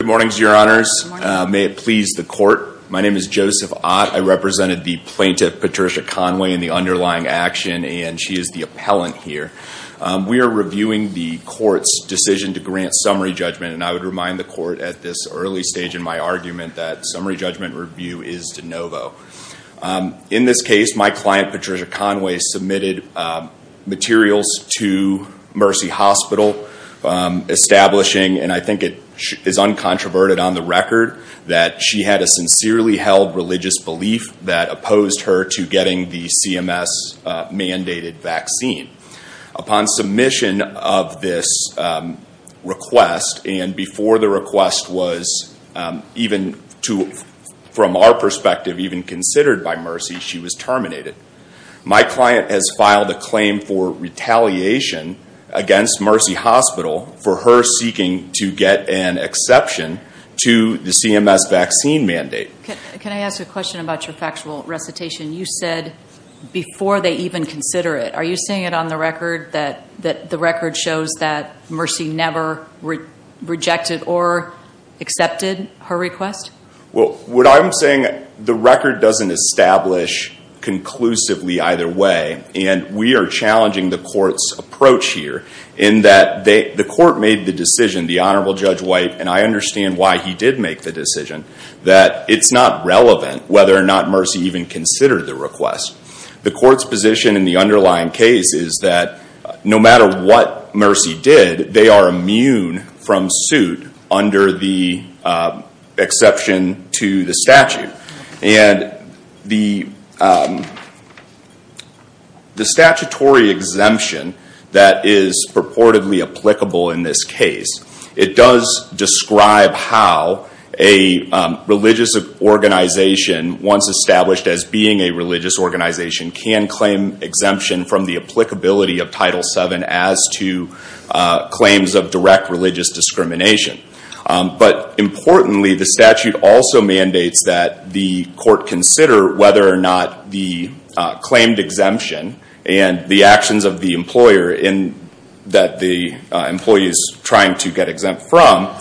Good morning, Your Honors. May it please the Court. My name is Joseph Ott. I represented the plaintiff, Patricia Conway, in the underlying action, and she is the appellant here. We are reviewing the Court's decision to grant summary judgment, and I would remind the Court at this early stage in my argument that summary judgment review is de novo. In this case, my client, Patricia Conway, submitted materials to Mercy Hospital establishing, and I think it is uncontroverted on the record, that she had a sincerely held religious belief that opposed her to getting the CMS-mandated vaccine. Upon submission of this request, and before the request was even, from our perspective, even considered by Mercy, she was terminated. My client has filed a claim for retaliation against Mercy Hospital for her seeking to get an exception to the CMS vaccine mandate. Can I ask a question about your factual recitation? You said before they even consider it. Are you saying it on the record that the record shows that Mercy never rejected or accepted her request? Well, what I'm saying, the record doesn't establish conclusively either way, and we are challenging the Court's approach here in that the Court made the decision, the Honorable Judge White, and I understand why he did make the decision, that it's not relevant whether or not Mercy even considered the request. The Court's position in the underlying case is that no matter what Mercy did, they are immune from suit under the exception to the statute. The statutory exemption that is purportedly applicable in this case, it does describe how a religious organization, once established as being a religious organization, can claim exemption from the applicability of Title VII as to claims of direct religious discrimination. Importantly, the statute also mandates that the Court consider whether or not the claimed exemption and the actions of the employer that the employee is trying to get exempt from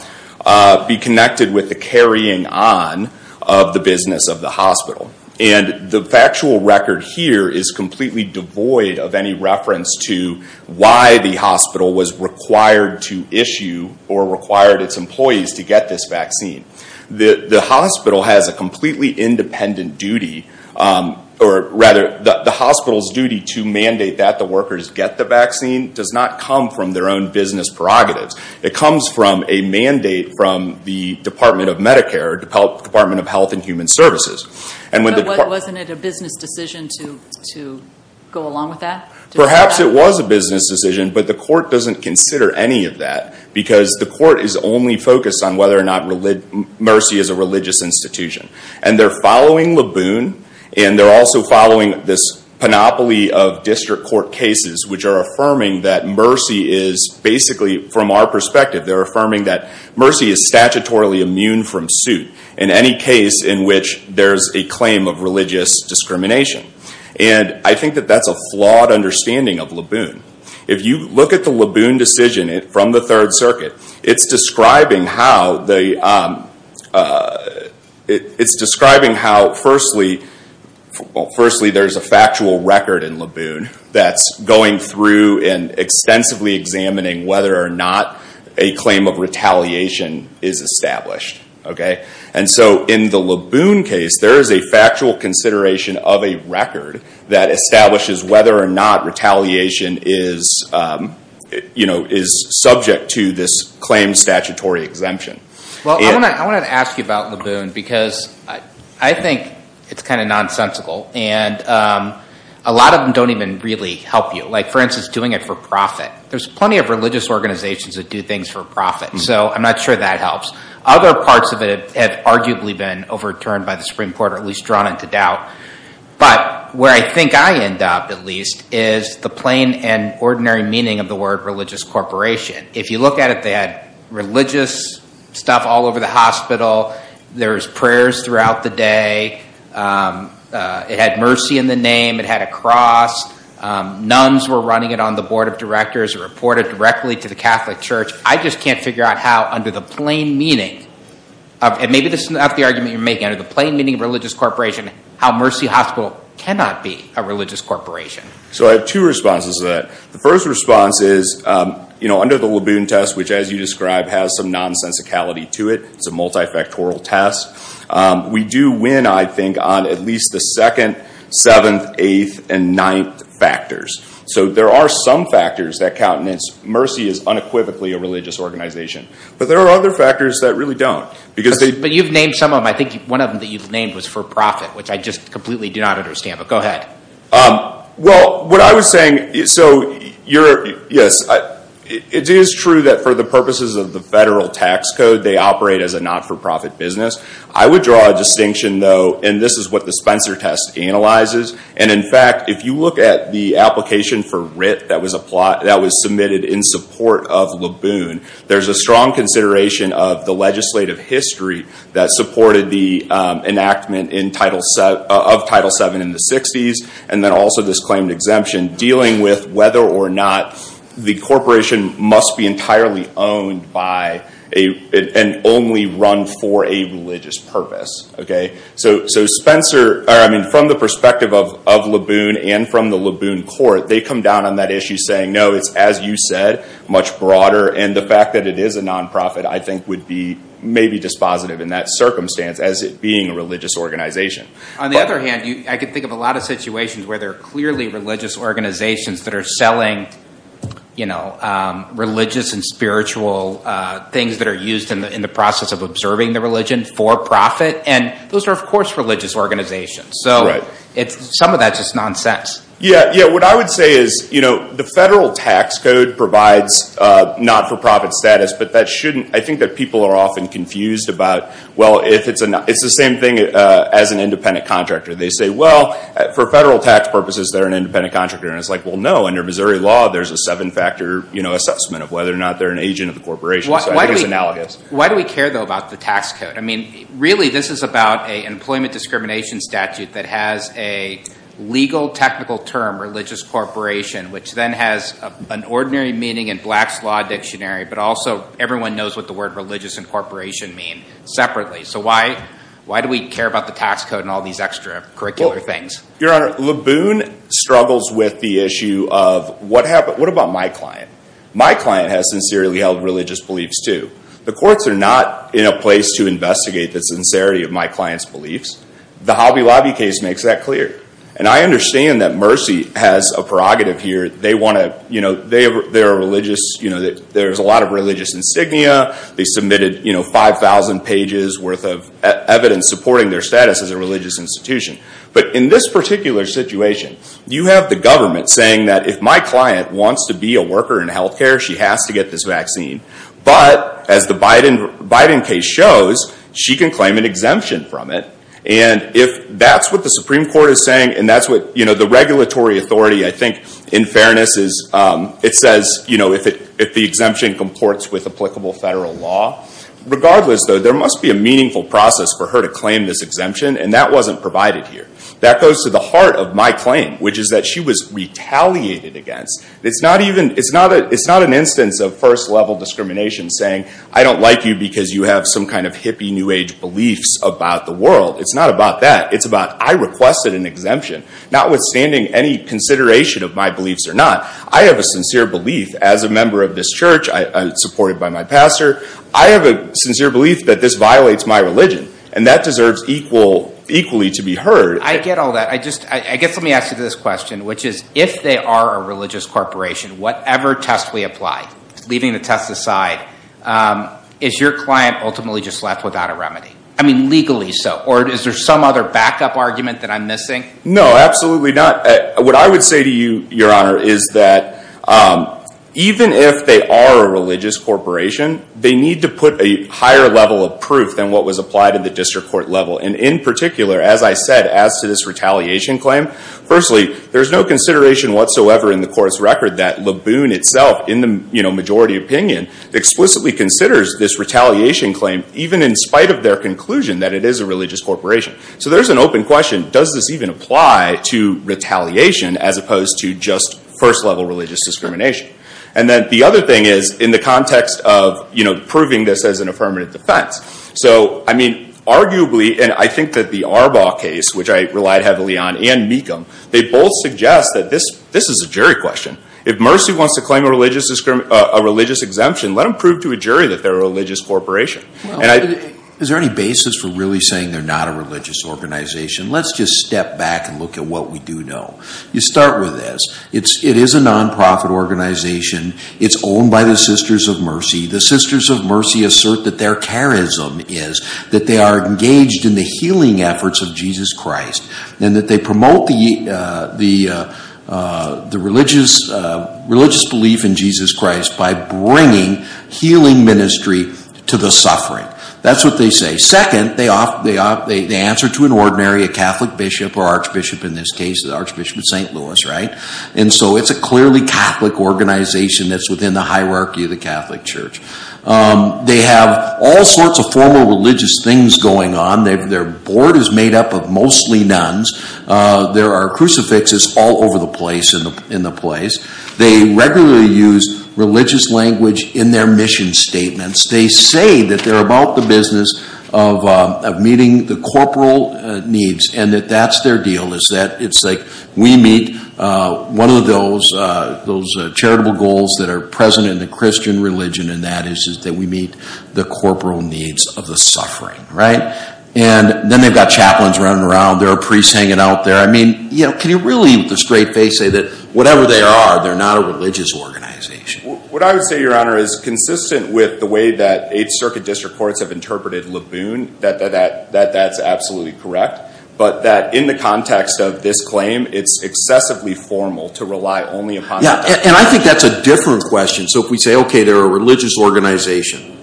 be connected with the carrying on of the business of the hospital. The factual record here is completely devoid of any reference to why the hospital was required to issue or required its employees to get this vaccine. The hospital has a completely independent duty, or rather, the hospital's duty to mandate that the workers get the vaccine does not come from their own business prerogatives. It comes from a mandate from the Department of Medicare, Department of Health and Human Services. But wasn't it a business decision to go along with that? Perhaps it was a business decision, but the Court doesn't consider any of that because the Court is only focused on whether or not Mercy is a religious institution. And they're following Laboon, and they're also following this panoply of district court cases which are affirming that Mercy is basically, from our perspective, they're affirming that Mercy is statutorily immune from suit in any case in which there's a claim of religious discrimination. And I think that that's a flawed understanding of Laboon. If you look at the Laboon decision from the Third Circuit, it's describing how, firstly, there's a factual record in Laboon that's going through and extensively examining whether or not a claim of retaliation is established. And so in the Laboon case, there is a factual consideration of a record that establishes whether or not retaliation is subject to this claim statutory exemption. Well, I want to ask you about Laboon because I think it's kind of nonsensical, and a lot of them don't even really help you. Like, for instance, doing it for profit. There's plenty of religious organizations that do things for profit, so I'm not sure that helps. Other parts of it have arguably been overturned by the Supreme Court, or at least drawn into doubt. But where I think I end up, at least, is the plain and ordinary meaning of the word religious corporation. If you look at it, they had religious stuff all over the hospital. There's prayers throughout the day. It had Mercy in the name. It had a cross. Nuns were running it on the board of directors. It reported directly to the Catholic Church. I just can't figure out how, under the plain meaning of religious corporation, how Mercy Hospital cannot be a religious corporation. So I have two responses to that. The first response is, under the Laboon test, which as you described has some nonsensicality to it, it's a multifactorial test, we do win, I think, on at least the second, seventh, eighth, and ninth factors. So there are some factors that count, and it's Mercy is unequivocally a religious organization. But there are other factors that really don't. But you've named some of them. I think one of them that you've named was for profit, which I just completely do not understand. But go ahead. Well, what I was saying, so yes, it is true that for the purposes of the federal tax code they operate as a not-for-profit business. I would draw a distinction, though, and this is what the Spencer test analyzes. And in fact, if you look at the application for Writ that was submitted in support of Laboon, there's a strong consideration of the legislative history that supported the enactment of Title VII in the 60s, and then also this claimed exemption dealing with whether or not the corporation must be entirely owned by and only run for a religious purpose. So Spencer, I mean, from the perspective of Laboon and from the Laboon court, they come down on that issue saying, no, it's, as you said, much broader. And the fact that it is a nonprofit, I think, would be maybe dispositive in that circumstance as it being a religious organization. On the other hand, I can think of a lot of situations where there are clearly religious organizations that are selling religious and spiritual things that are used in the process of observing the religion for profit. And those are, of course, religious organizations. So some of that's just nonsense. Yeah, what I would say is the federal tax code provides not-for-profit status, but that shouldn't, I think that people are often confused about, well, it's the same thing as an independent contractor. They say, well, for federal tax purposes, they're an independent contractor. And it's like, well, no, under Missouri law, there's a seven-factor assessment of whether or not they're an agent of the corporation. So I think it's analogous. Why do we care, though, about the tax code? I mean, really, this is about an employment discrimination statute that has a legal technical term, religious corporation, which then has an ordinary meaning in Black's Law Dictionary, but also everyone knows what the word religious and corporation mean separately. So why do we care about the tax code and all these extra curricular things? Your Honor, Laboon struggles with the issue of what about my client? My client has sincerely held religious beliefs, too. The courts are not in a place to investigate the sincerity of my client's beliefs. The Hobby Lobby case makes that clear. And I understand that Mercy has a prerogative here. They want to, you know, they're a religious, you know, there's a lot of religious insignia. They submitted, you know, 5,000 pages worth of evidence supporting their status as a religious institution. But in this particular situation, you have the government saying that if my client wants to be a worker in health care, she has to get this vaccine. But as the Biden case shows, she can claim an exemption from it. And if that's what the Supreme Court is saying and that's what, you know, the regulatory authority, I think, in fairness is, it says, you know, if the exemption comports with applicable federal law, regardless, though, there must be a meaningful process for her to claim this exemption. And that wasn't provided here. That goes to the heart of my claim, which is that she was retaliated against. It's not even, it's not an instance of first-level discrimination saying, I don't like you because you have some kind of hippie New Age beliefs about the world. It's not about that. It's about I requested an exemption. Notwithstanding any consideration of my beliefs or not, I have a sincere belief as a member of this church, supported by my pastor, I have a sincere belief that this violates my religion. And that deserves equal, equally to be heard. I get all that. I just, I guess let me ask you this question, which is if they are a without a remedy? I mean, legally so. Or is there some other backup argument that I'm missing? No, absolutely not. What I would say to you, Your Honor, is that even if they are a religious corporation, they need to put a higher level of proof than what was applied at the district court level. And in particular, as I said, as to this retaliation claim, firstly, there's no consideration whatsoever in the court's record that Laboon itself, in the, you know, majority opinion, explicitly considers this retaliation claim, even in spite of their conclusion that it is a religious corporation. So there's an open question, does this even apply to retaliation as opposed to just first level religious discrimination? And then the other thing is, in the context of, you know, proving this as an affirmative defense. So, I mean, arguably, and I think that the Arbaugh case, which I relied heavily on, and Mecham, they both suggest that this is a jury question. If Mercy wants to claim a religious exemption, let them prove to a religious corporation. Is there any basis for really saying they're not a religious organization? Let's just step back and look at what we do know. You start with this. It is a non-profit organization. It's owned by the Sisters of Mercy. The Sisters of Mercy assert that their charism is that they are engaged in the healing efforts of Jesus Christ, and that they promote the religious belief in Jesus Christ by bringing healing ministry to the suffering. That's what they say. Second, they answer to an ordinary Catholic bishop, or archbishop in this case, the Archbishop of St. Louis, right? And so it's a clearly Catholic organization that's within the hierarchy of the Catholic Church. They have all sorts of formal religious things going on. Their board is made up of mostly nuns. There are crucifixes all over the place. They regularly use religious language in their mission statements. They say that they're about the business of meeting the corporal needs, and that that's their deal. It's like we meet one of those charitable goals that are present in the Christian religion, and that is that we meet the corporal needs of the suffering, right? And then they've got chaplains running around. There are priests hanging out there. I mean, can you really with a straight face say that whatever they are, they're not a religious organization? What I would say, Your Honor, is consistent with the way that 8th Circuit District Courts have interpreted Laboon, that that's absolutely correct. But that in the context of this claim, it's excessively formal to rely only upon that. And I think that's a different question. So if we say, OK, they're a religious organization,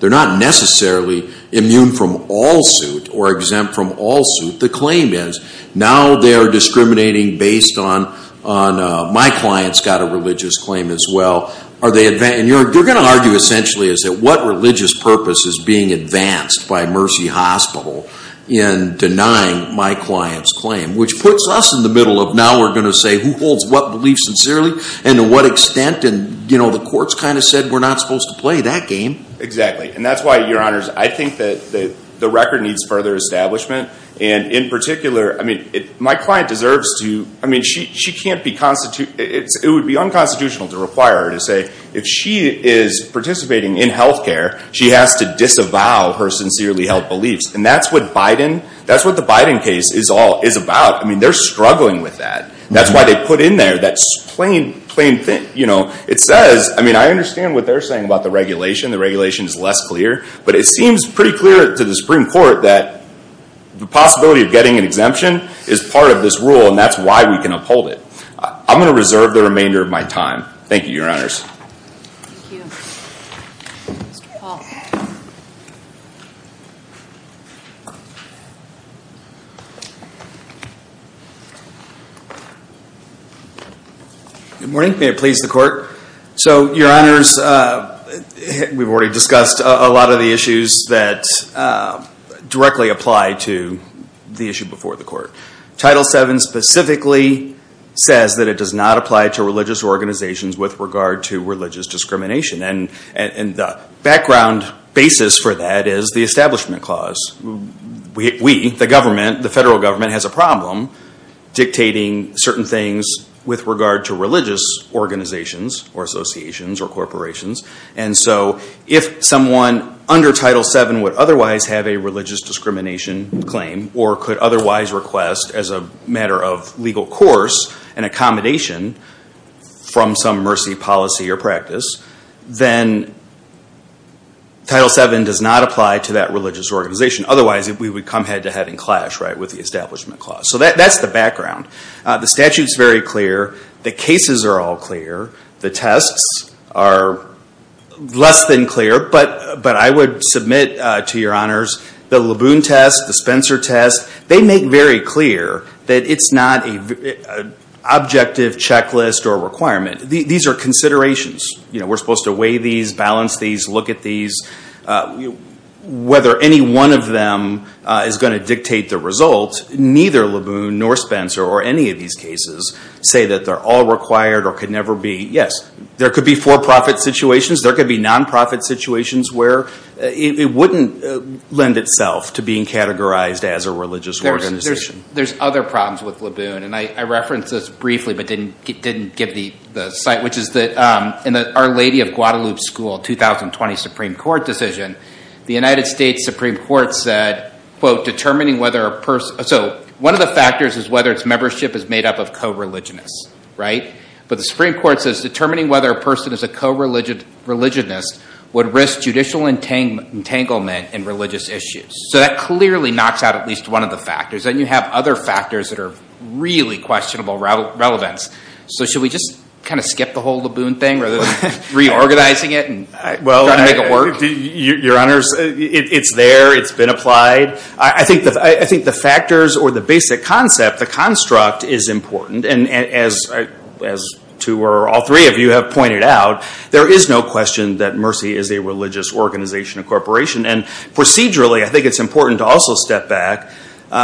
they're not necessarily immune from all suit or exempt from all suit. The claim is now they're discriminating based on my client's got a religious claim as well. And they're going to argue essentially is that what religious purpose is being advanced by Mercy Hospital in denying my client's claim, which puts us in the middle of now we're going to say who holds what belief sincerely and to what extent. And the courts kind of said we're not supposed to play that game. Exactly. And that's why, Your Honors, I think that the record needs further establishment. And in particular, I mean, my client deserves to, I mean, she can't be, it would be unconstitutional to require her to say if she is participating in health care, she has to disavow her sincerely held beliefs. And that's what Biden, that's what the Biden case is all is about. I mean, they're struggling with that. That's why they put in there that plain thing. You know, it says, I mean, I understand what they're saying about the regulation. The regulation is less clear. But it seems pretty clear to the Supreme Court that the possibility of getting an exemption is part of this rule. And that's why we can uphold it. I'm going to reserve the remainder of my time. Thank you, Your Honors. Thank you. Mr. Paul. Good morning. May it please the Court. So, Your Honors, we've already discussed a lot of the issues that directly apply to the issue before the Court. Title VII specifically says that it does not apply to religious organizations with regard to religious discrimination. And the background basis for that is the Establishment Clause. We, the government, the federal government has a problem dictating certain things with regard to religious organizations or associations or corporations. And so if someone under Title VII would otherwise have a religious discrimination claim or could otherwise request as a matter of legal course an accommodation from some controversy, policy, or practice, then Title VII does not apply to that religious organization. Otherwise, we would come head to head and clash, right, with the Establishment Clause. So that's the background. The statute's very clear. The cases are all clear. The tests are less than clear. But I would submit to Your Honors, the Laboon test, the Spencer test, they make very clear that it's not an objective checklist or requirement. These are considerations. We're supposed to weigh these, balance these, look at these. Whether any one of them is going to dictate the result, neither Laboon nor Spencer or any of these cases say that they're all required or could never be. Yes, there could be for-profit situations. There could be non-profit situations where it wouldn't lend itself to being categorized as a religious organization. There's other problems with Laboon, and I referenced this briefly but didn't give the site, which is that in the Our Lady of Guadalupe School 2020 Supreme Court decision, the United States Supreme Court said, quote, determining whether a person—so one of the factors is whether its membership is made up of co-religionists, right? But the Supreme Court says determining whether a person is a co-religionist would risk judicial entanglement in religious issues. So that clearly knocks out at least one of the factors. Then you have other factors that are really questionable relevance. So should we just kind of skip the whole Laboon thing rather than reorganizing it and trying to make it work? Your Honors, it's there. It's been applied. I think the factors or the basic concept, the construct, is important. And as two or all three of you have pointed out, there is no question that Mercy is a religious organization or corporation. And procedurally, I think it's important to also step back.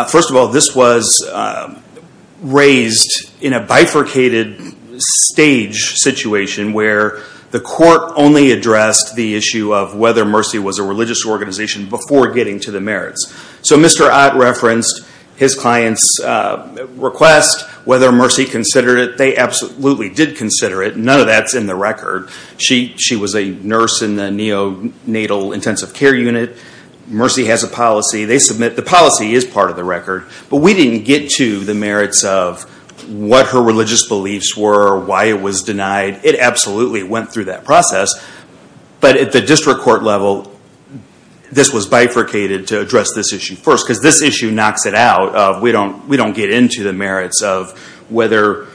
First of all, this was raised in a bifurcated stage situation where the court only addressed the issue of whether Mercy was a religious organization before getting to the merits. So Mr. Ott referenced his client's request, whether Mercy considered it. They absolutely did consider it. None of that's in the record. She was a nurse in the neonatal intensive care unit. Mercy has a policy. They submit the policy is part of the record. But we didn't get to the merits of what her religious beliefs were, why it was denied. It absolutely went through that process. But at the district court level, this was bifurcated to address this issue first. Because this issue knocks it out. We don't get into the merits of whether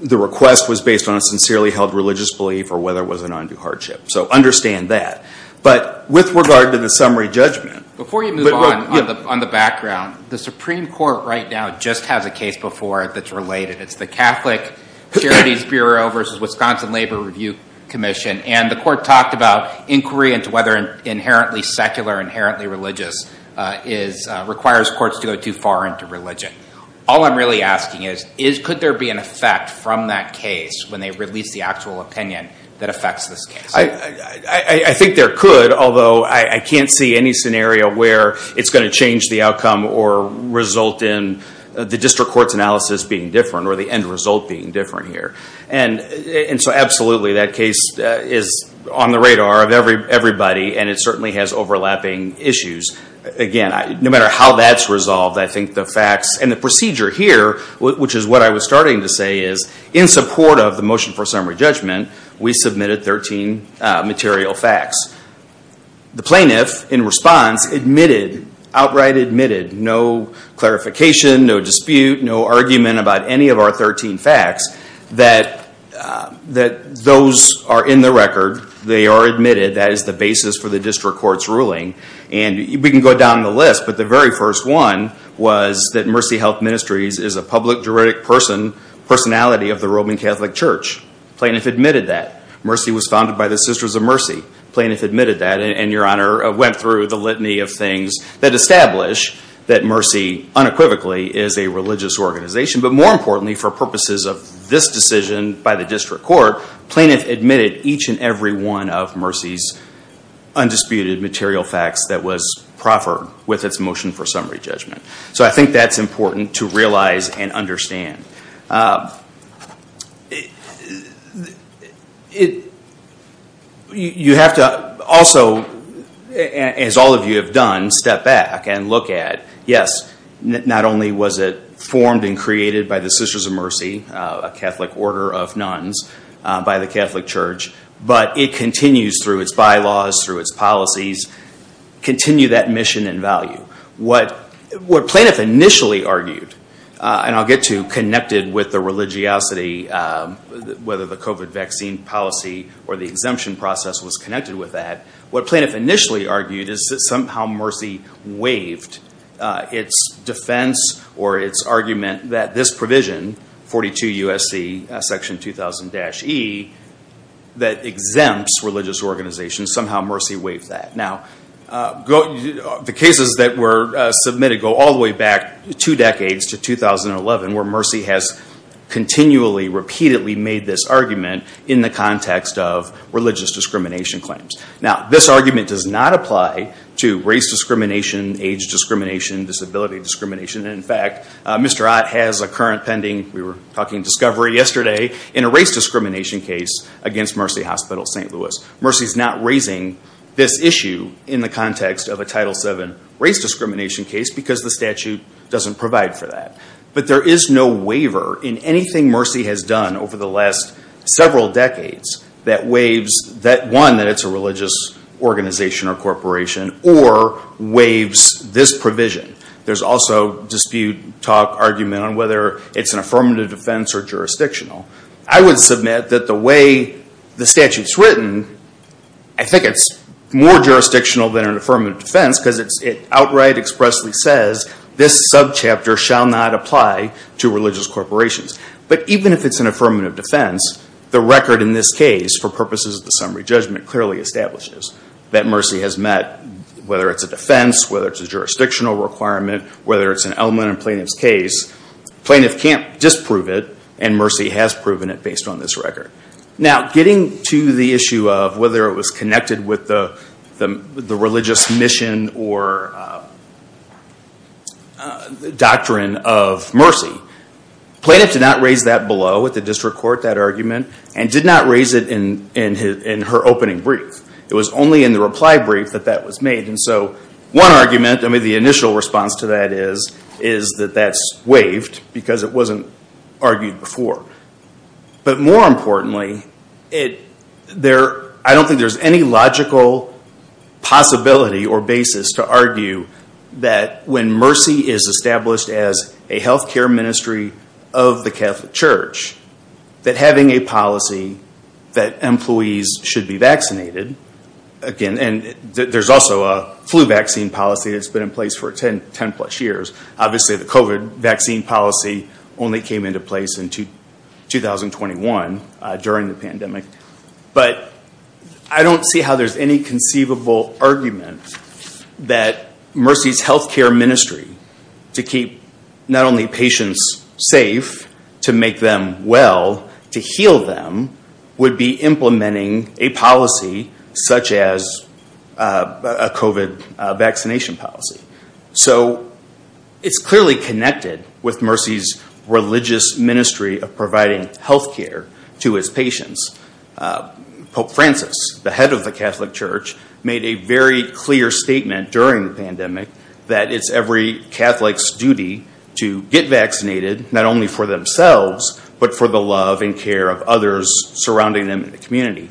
the request was based on a sincerely held religious belief or whether it was an undue hardship. So understand that. But with regard to the summary judgment. Before you move on, on the background, the Supreme Court right now just has a case before that's related. It's the Catholic Charities Bureau versus Wisconsin Labor Review Commission. And the court talked about inquiry into whether inherently secular, inherently religious requires courts to go too far into religion. All I'm really asking is, could there be an effect from that case when they release the actual opinion that affects this case? I think there could. Although I can't see any scenario where it's going to change the outcome or result in the district court's analysis being different or the end result being different here. And so absolutely, that case is on the radar of everybody. And it certainly has overlapping issues. Again, no matter how that's resolved, I think the facts and the procedure here, which is what I was starting to say, is in support of the motion for summary judgment, we submitted 13 material facts. The plaintiff in response admitted, outright admitted, no clarification, no dispute, no argument about any of our 13 facts, that those are in the record. They are admitted. That is the basis for the district court's ruling. And we can go down the list, but the very first one was that Mercy Health Ministries is a public juridic personality of the Roman Catholic Church. The plaintiff admitted that. Mercy was founded by the Sisters of Mercy. The plaintiff admitted that and, Your Honor, went through the litany of things that establish that Mercy unequivocally is a religious organization. But more importantly, for purposes of this decision by the district court, the plaintiff admitted each and every one of Mercy's undisputed material facts that was proffered with its motion for summary judgment. So I think that's important to realize and understand. You have to also, as all of you have done, step back and look at, yes, not only was it a church, but it continues through its bylaws, through its policies, continue that mission and value. What plaintiff initially argued, and I'll get to connected with the religiosity, whether the COVID vaccine policy or the exemption process was connected with that, what plaintiff initially argued is that somehow Mercy waived its defense or its argument that this provision, 42 U.S.C. section 2000-E, that exempts religious organizations, somehow Mercy waived that. The cases that were submitted go all the way back two decades to 2011, where Mercy has continually, repeatedly made this argument in the context of religious discrimination claims. This argument does not apply to race discrimination, age discrimination, disability discrimination. In fact, Mr. Ott has a current pending, we were talking discovery yesterday, in a race discrimination case against Mercy Hospital St. Louis. Mercy's not raising this issue in the context of a Title VII race discrimination case because the statute doesn't provide for that. But there is no waiver in anything Mercy has done over the last several decades that waives that one, that it's a religious organization or corporation, or waives this provision. There's also dispute, talk, argument on whether it's an affirmative defense or jurisdictional. I would submit that the way the statute's written, I think it's more jurisdictional than an affirmative defense because it outright, expressly says, this subchapter shall not apply to religious corporations. But even if it's an affirmative defense, the record in this case, for purposes of the summary judgment, clearly establishes that Mercy has met, whether it's a defense, whether it's a jurisdictional requirement, whether it's an element in plaintiff's case, plaintiff can't disprove it, and Mercy has proven it based on this record. Now, getting to the issue of whether it was connected with the religious mission or doctrine of Mercy, plaintiff did not raise that below with the district court, that argument, and did not raise it in her opening brief. It was only in the reply brief that that was made. One argument, the initial response to that is, is that that's waived because it wasn't argued before. But more importantly, I don't think there's any logical possibility or basis to argue that when Mercy is established as a healthcare ministry of the Catholic Church, that having a policy that employees should be vaccinated, again, and there's also a flu vaccine policy that's been in place for 10 plus years. Obviously, the COVID vaccine policy only came into place in 2021, during the pandemic. But I don't see how there's any conceivable argument that Mercy's healthcare ministry, to keep not only patients safe, to make them well, to heal them, would be implementing a policy such as a COVID vaccination policy. So, it's clearly connected with Mercy's religious ministry of providing healthcare to its patients. Pope Francis, the head of the Catholic Church, made a very clear statement during the pandemic that it's every Catholic's duty to get vaccinated, not only for themselves, but for the love and care of others surrounding them in the community.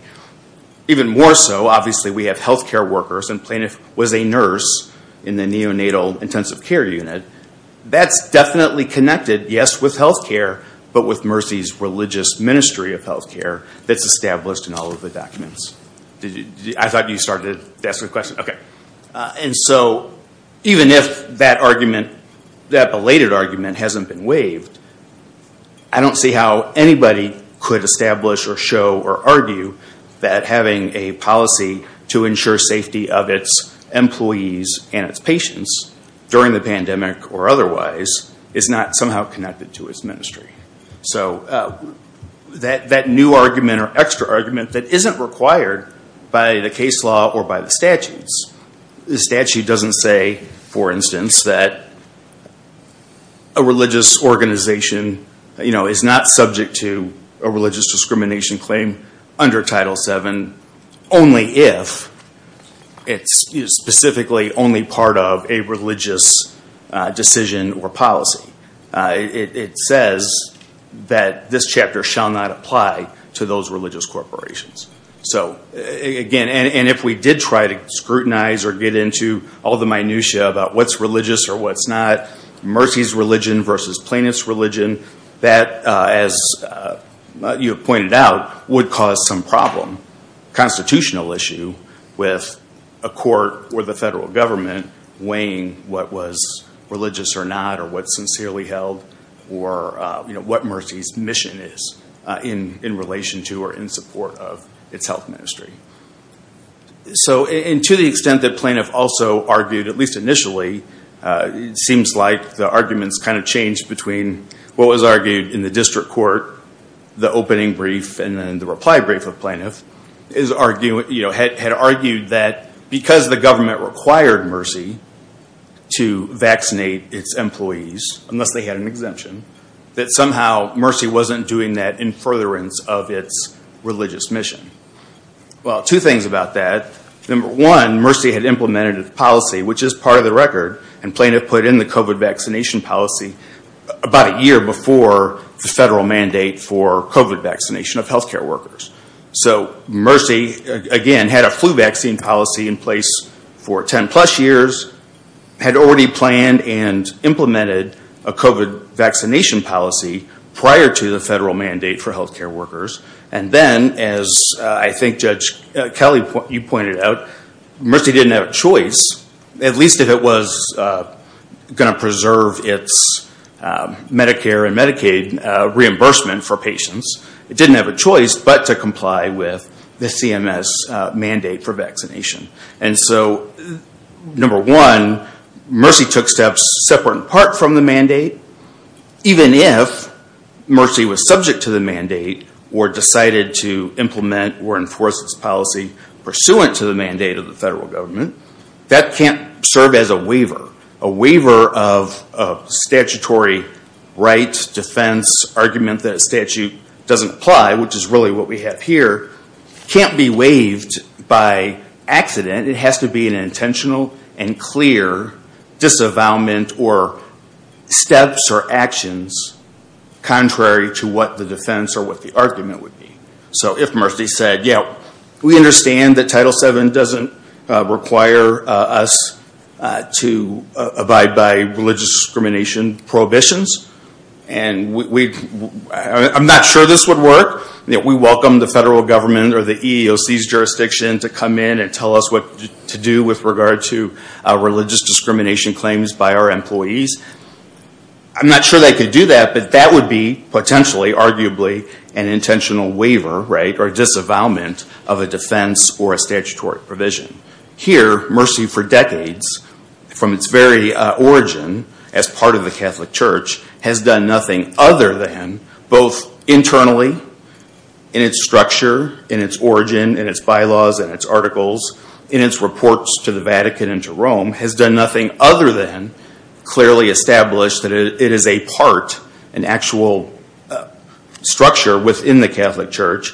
Even more so, obviously, we have healthcare workers and plaintiff was a nurse in the neonatal intensive care unit. That's definitely connected, yes, with healthcare, but with Mercy's religious ministry of healthcare that's established in all of the documents. And so, even if that belated argument hasn't been waived, I don't see how anybody could establish, or show, or argue that having a policy to ensure safety of its employees and its patients during the pandemic, or otherwise, is not somehow connected to its ministry. That new argument, or extra argument, that isn't required by the case law or by the statutes. The statute doesn't say, for instance, that a religious organization is not subject to a religious discrimination claim under Title VII, only if it's specifically only part of a religious decision or policy. It says that this chapter shall not apply to those religious corporations. So, again, and if we did try to scrutinize or get into all the minutiae about what's religious or what's not, Mercy's religion versus plaintiff's religion, that, as you have pointed out, would cause some problem. Constitutional issue with a court or the federal government weighing what was religious or not, or what's sincerely held, or what Mercy's mission is in relation to or in support of its health ministry. So, and to the extent that plaintiff also argued, at least initially, it seems like the arguments kind of changed between what was argued in the district court, the opening brief, and then the reply brief of plaintiff, had argued that because the government required Mercy to vaccinate its employees, unless they had an exemption, that somehow Mercy wasn't doing that in furtherance of its religious mission. Well, two things about that. Number one, Mercy had implemented a policy, which is part of the record, and plaintiff put in the COVID vaccination policy about a year before the federal mandate for COVID vaccination of health care workers. So Mercy, again, had a flu vaccine policy in place for ten plus years, had already planned and implemented a COVID vaccination policy prior to the federal mandate. As Natalie, you pointed out, Mercy didn't have a choice, at least if it was going to preserve its Medicare and Medicaid reimbursement for patients. It didn't have a choice but to comply with the CMS mandate for vaccination. And so, number one, Mercy took steps separate in part from the mandate, even if Mercy was subject to the mandate or decided to implement or enforce this policy pursuant to the mandate of the federal government, that can't serve as a waiver. A waiver of statutory rights, defense, argument that statute doesn't apply, which is really what we have here, can't be waived by accident. It has to be an intentional and clear disavowment or steps or actions contrary to what the defense or what the argument would be. So if Mercy said, yeah, we understand that Title VII doesn't require us to abide by religious discrimination prohibitions, and I'm not sure this would work. We welcome the federal government or the EEOC's jurisdiction to come in and tell us what to do with regard to religious discrimination claims by our employees. I'm not sure they could do that, but that would be potentially, arguably, an intentional waiver, right, or disavowment of a defense or a statutory provision. Here, Mercy for decades, from its very origin as part of the Catholic Church, has done nothing other than, both internally in its structure, in its origin, in its bylaws, in its articles, in its reports to the Vatican and to Rome, has done nothing other than clearly establish that it is a part, an actual structure within the Catholic Church,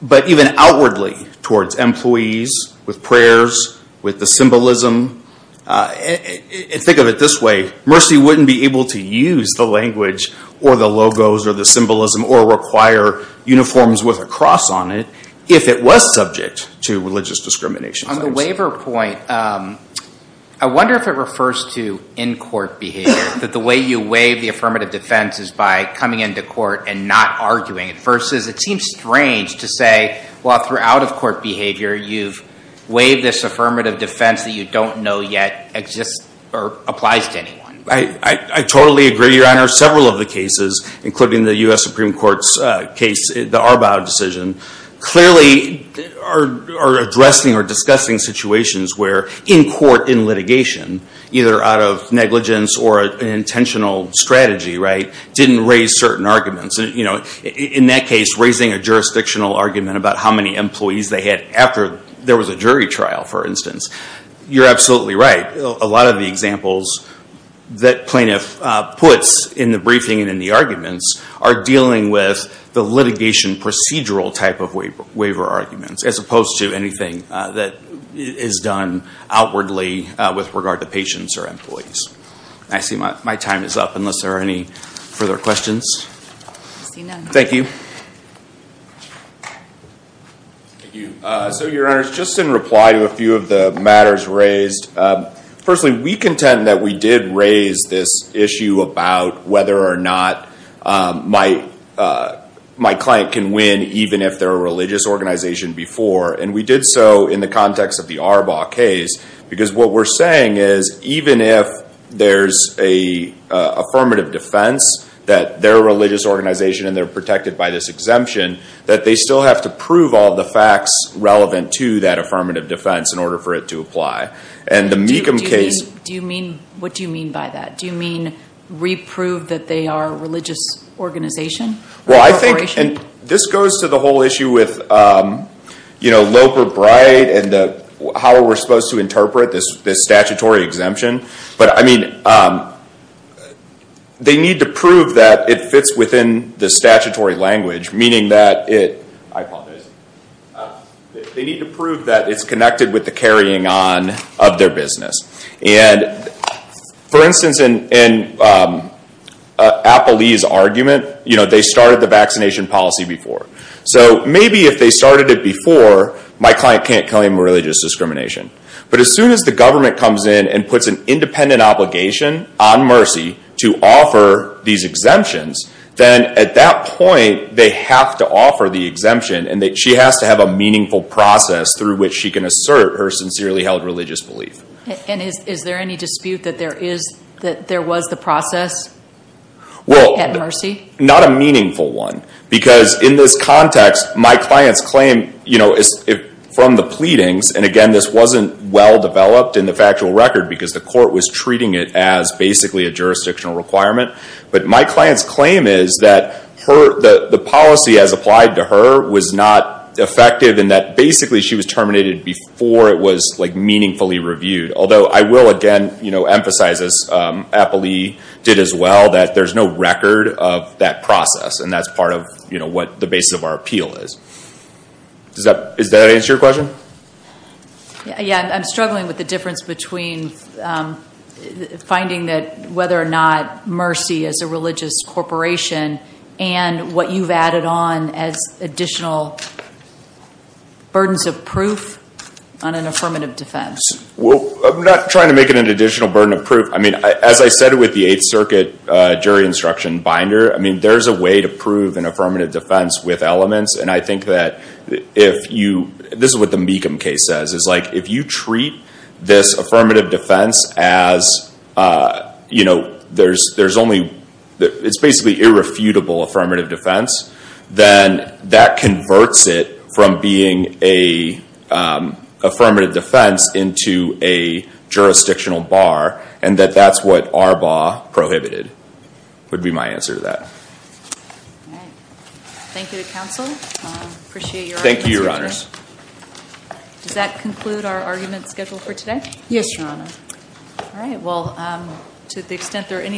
but even outwardly towards employees, with prayers, with the symbolism. Think of it this way. Mercy wouldn't be able to use the language or the logos or the symbolism or require uniforms with a cross on it if it was subject to religious discrimination On the waiver point, I wonder if it refers to in-court behavior, that the way you waive the affirmative defense is by coming into court and not arguing it, versus it seems strange to say, well, throughout of court behavior, you've waived this affirmative defense that you don't know yet exists or applies to anyone. I totally agree, Your Honor. Several of the cases, including the U.S. Supreme Court's case, the Arbaugh decision, clearly are addressing or discussing situations where in-court, in litigation, either out of negligence or an intentional strategy, didn't raise certain arguments. In that case, raising a jurisdictional argument about how many employees they had after there was a jury trial, for instance. You're absolutely right. A lot of the examples that plaintiff puts in the briefing and in the arguments are dealing with the litigation procedural type of waiver arguments, as opposed to anything that is done outwardly with regard to patients or employees. I see my time is up, unless there are any further questions. I see none. Thank you. Thank you. So, Your Honor, just in reply to a few of the matters raised, firstly, we contend that we did raise this issue about whether or not my client can win, even if they're a religious organization before. And we did so in the context of the Arbaugh case, because what we're saying is, even if there's an affirmative defense that they're a religious organization and they're protected by this exemption, that they still have to prove all the facts relevant to that affirmative defense in order for it to apply. What do you mean by that? Do you mean re-prove that they are a religious organization? This goes to the whole issue with Lope or Bright and how we're supposed to interpret this statutory exemption. They need to prove that it fits within the statutory language, meaning that it, I apologize, they need to prove that it's connected with the carrying on of their business. And, for instance, in Appalee's argument, they started the vaccination policy before. So, maybe if they started it before, my client can't claim religious discrimination. But as soon as the government comes in and puts an independent obligation on Mercy to offer these exemptions, then at that point, they have to offer the exemption. And she has to have a meaningful process through which she can assert her sincerely held religious belief. Is there any dispute that there was the process at Mercy? Not a meaningful one. Because in this context, my client's claim from the pleadings, and again this wasn't well developed in the factual record because the court was treating it as basically a jurisdictional requirement. But my client's claim is that the policy as applied to her was not effective in that basically she was terminated before it was meaningfully reviewed. Although, I will again emphasize, as Appalee did as well, that there's no record of that process. And that's part of what the basis of our appeal is. Does that answer your question? Yeah, I'm struggling with the difference between finding that whether or not Mercy is a religious corporation and what you've added on as additional burdens of proof on an affirmative defense. Well, I'm not trying to make it an additional burden of proof. I mean, as I said with the Eighth Circuit jury instruction binder, I mean, there's a way to prove an affirmative defense with elements. And I think that if you, this is what the Mecham case says, is like if you treat this affirmative defense as, you know, there's only, it's basically irrefutable affirmative defense, then that converts it from being a affirmative defense into a jurisdictional bar. And that that's what Arbaugh prohibited, would be my answer to that. Thank you to counsel. Appreciate your time. Thank you, your honors. Does that conclude our argument schedule for today? Yes, your honor. All right. Well, to the extent there are any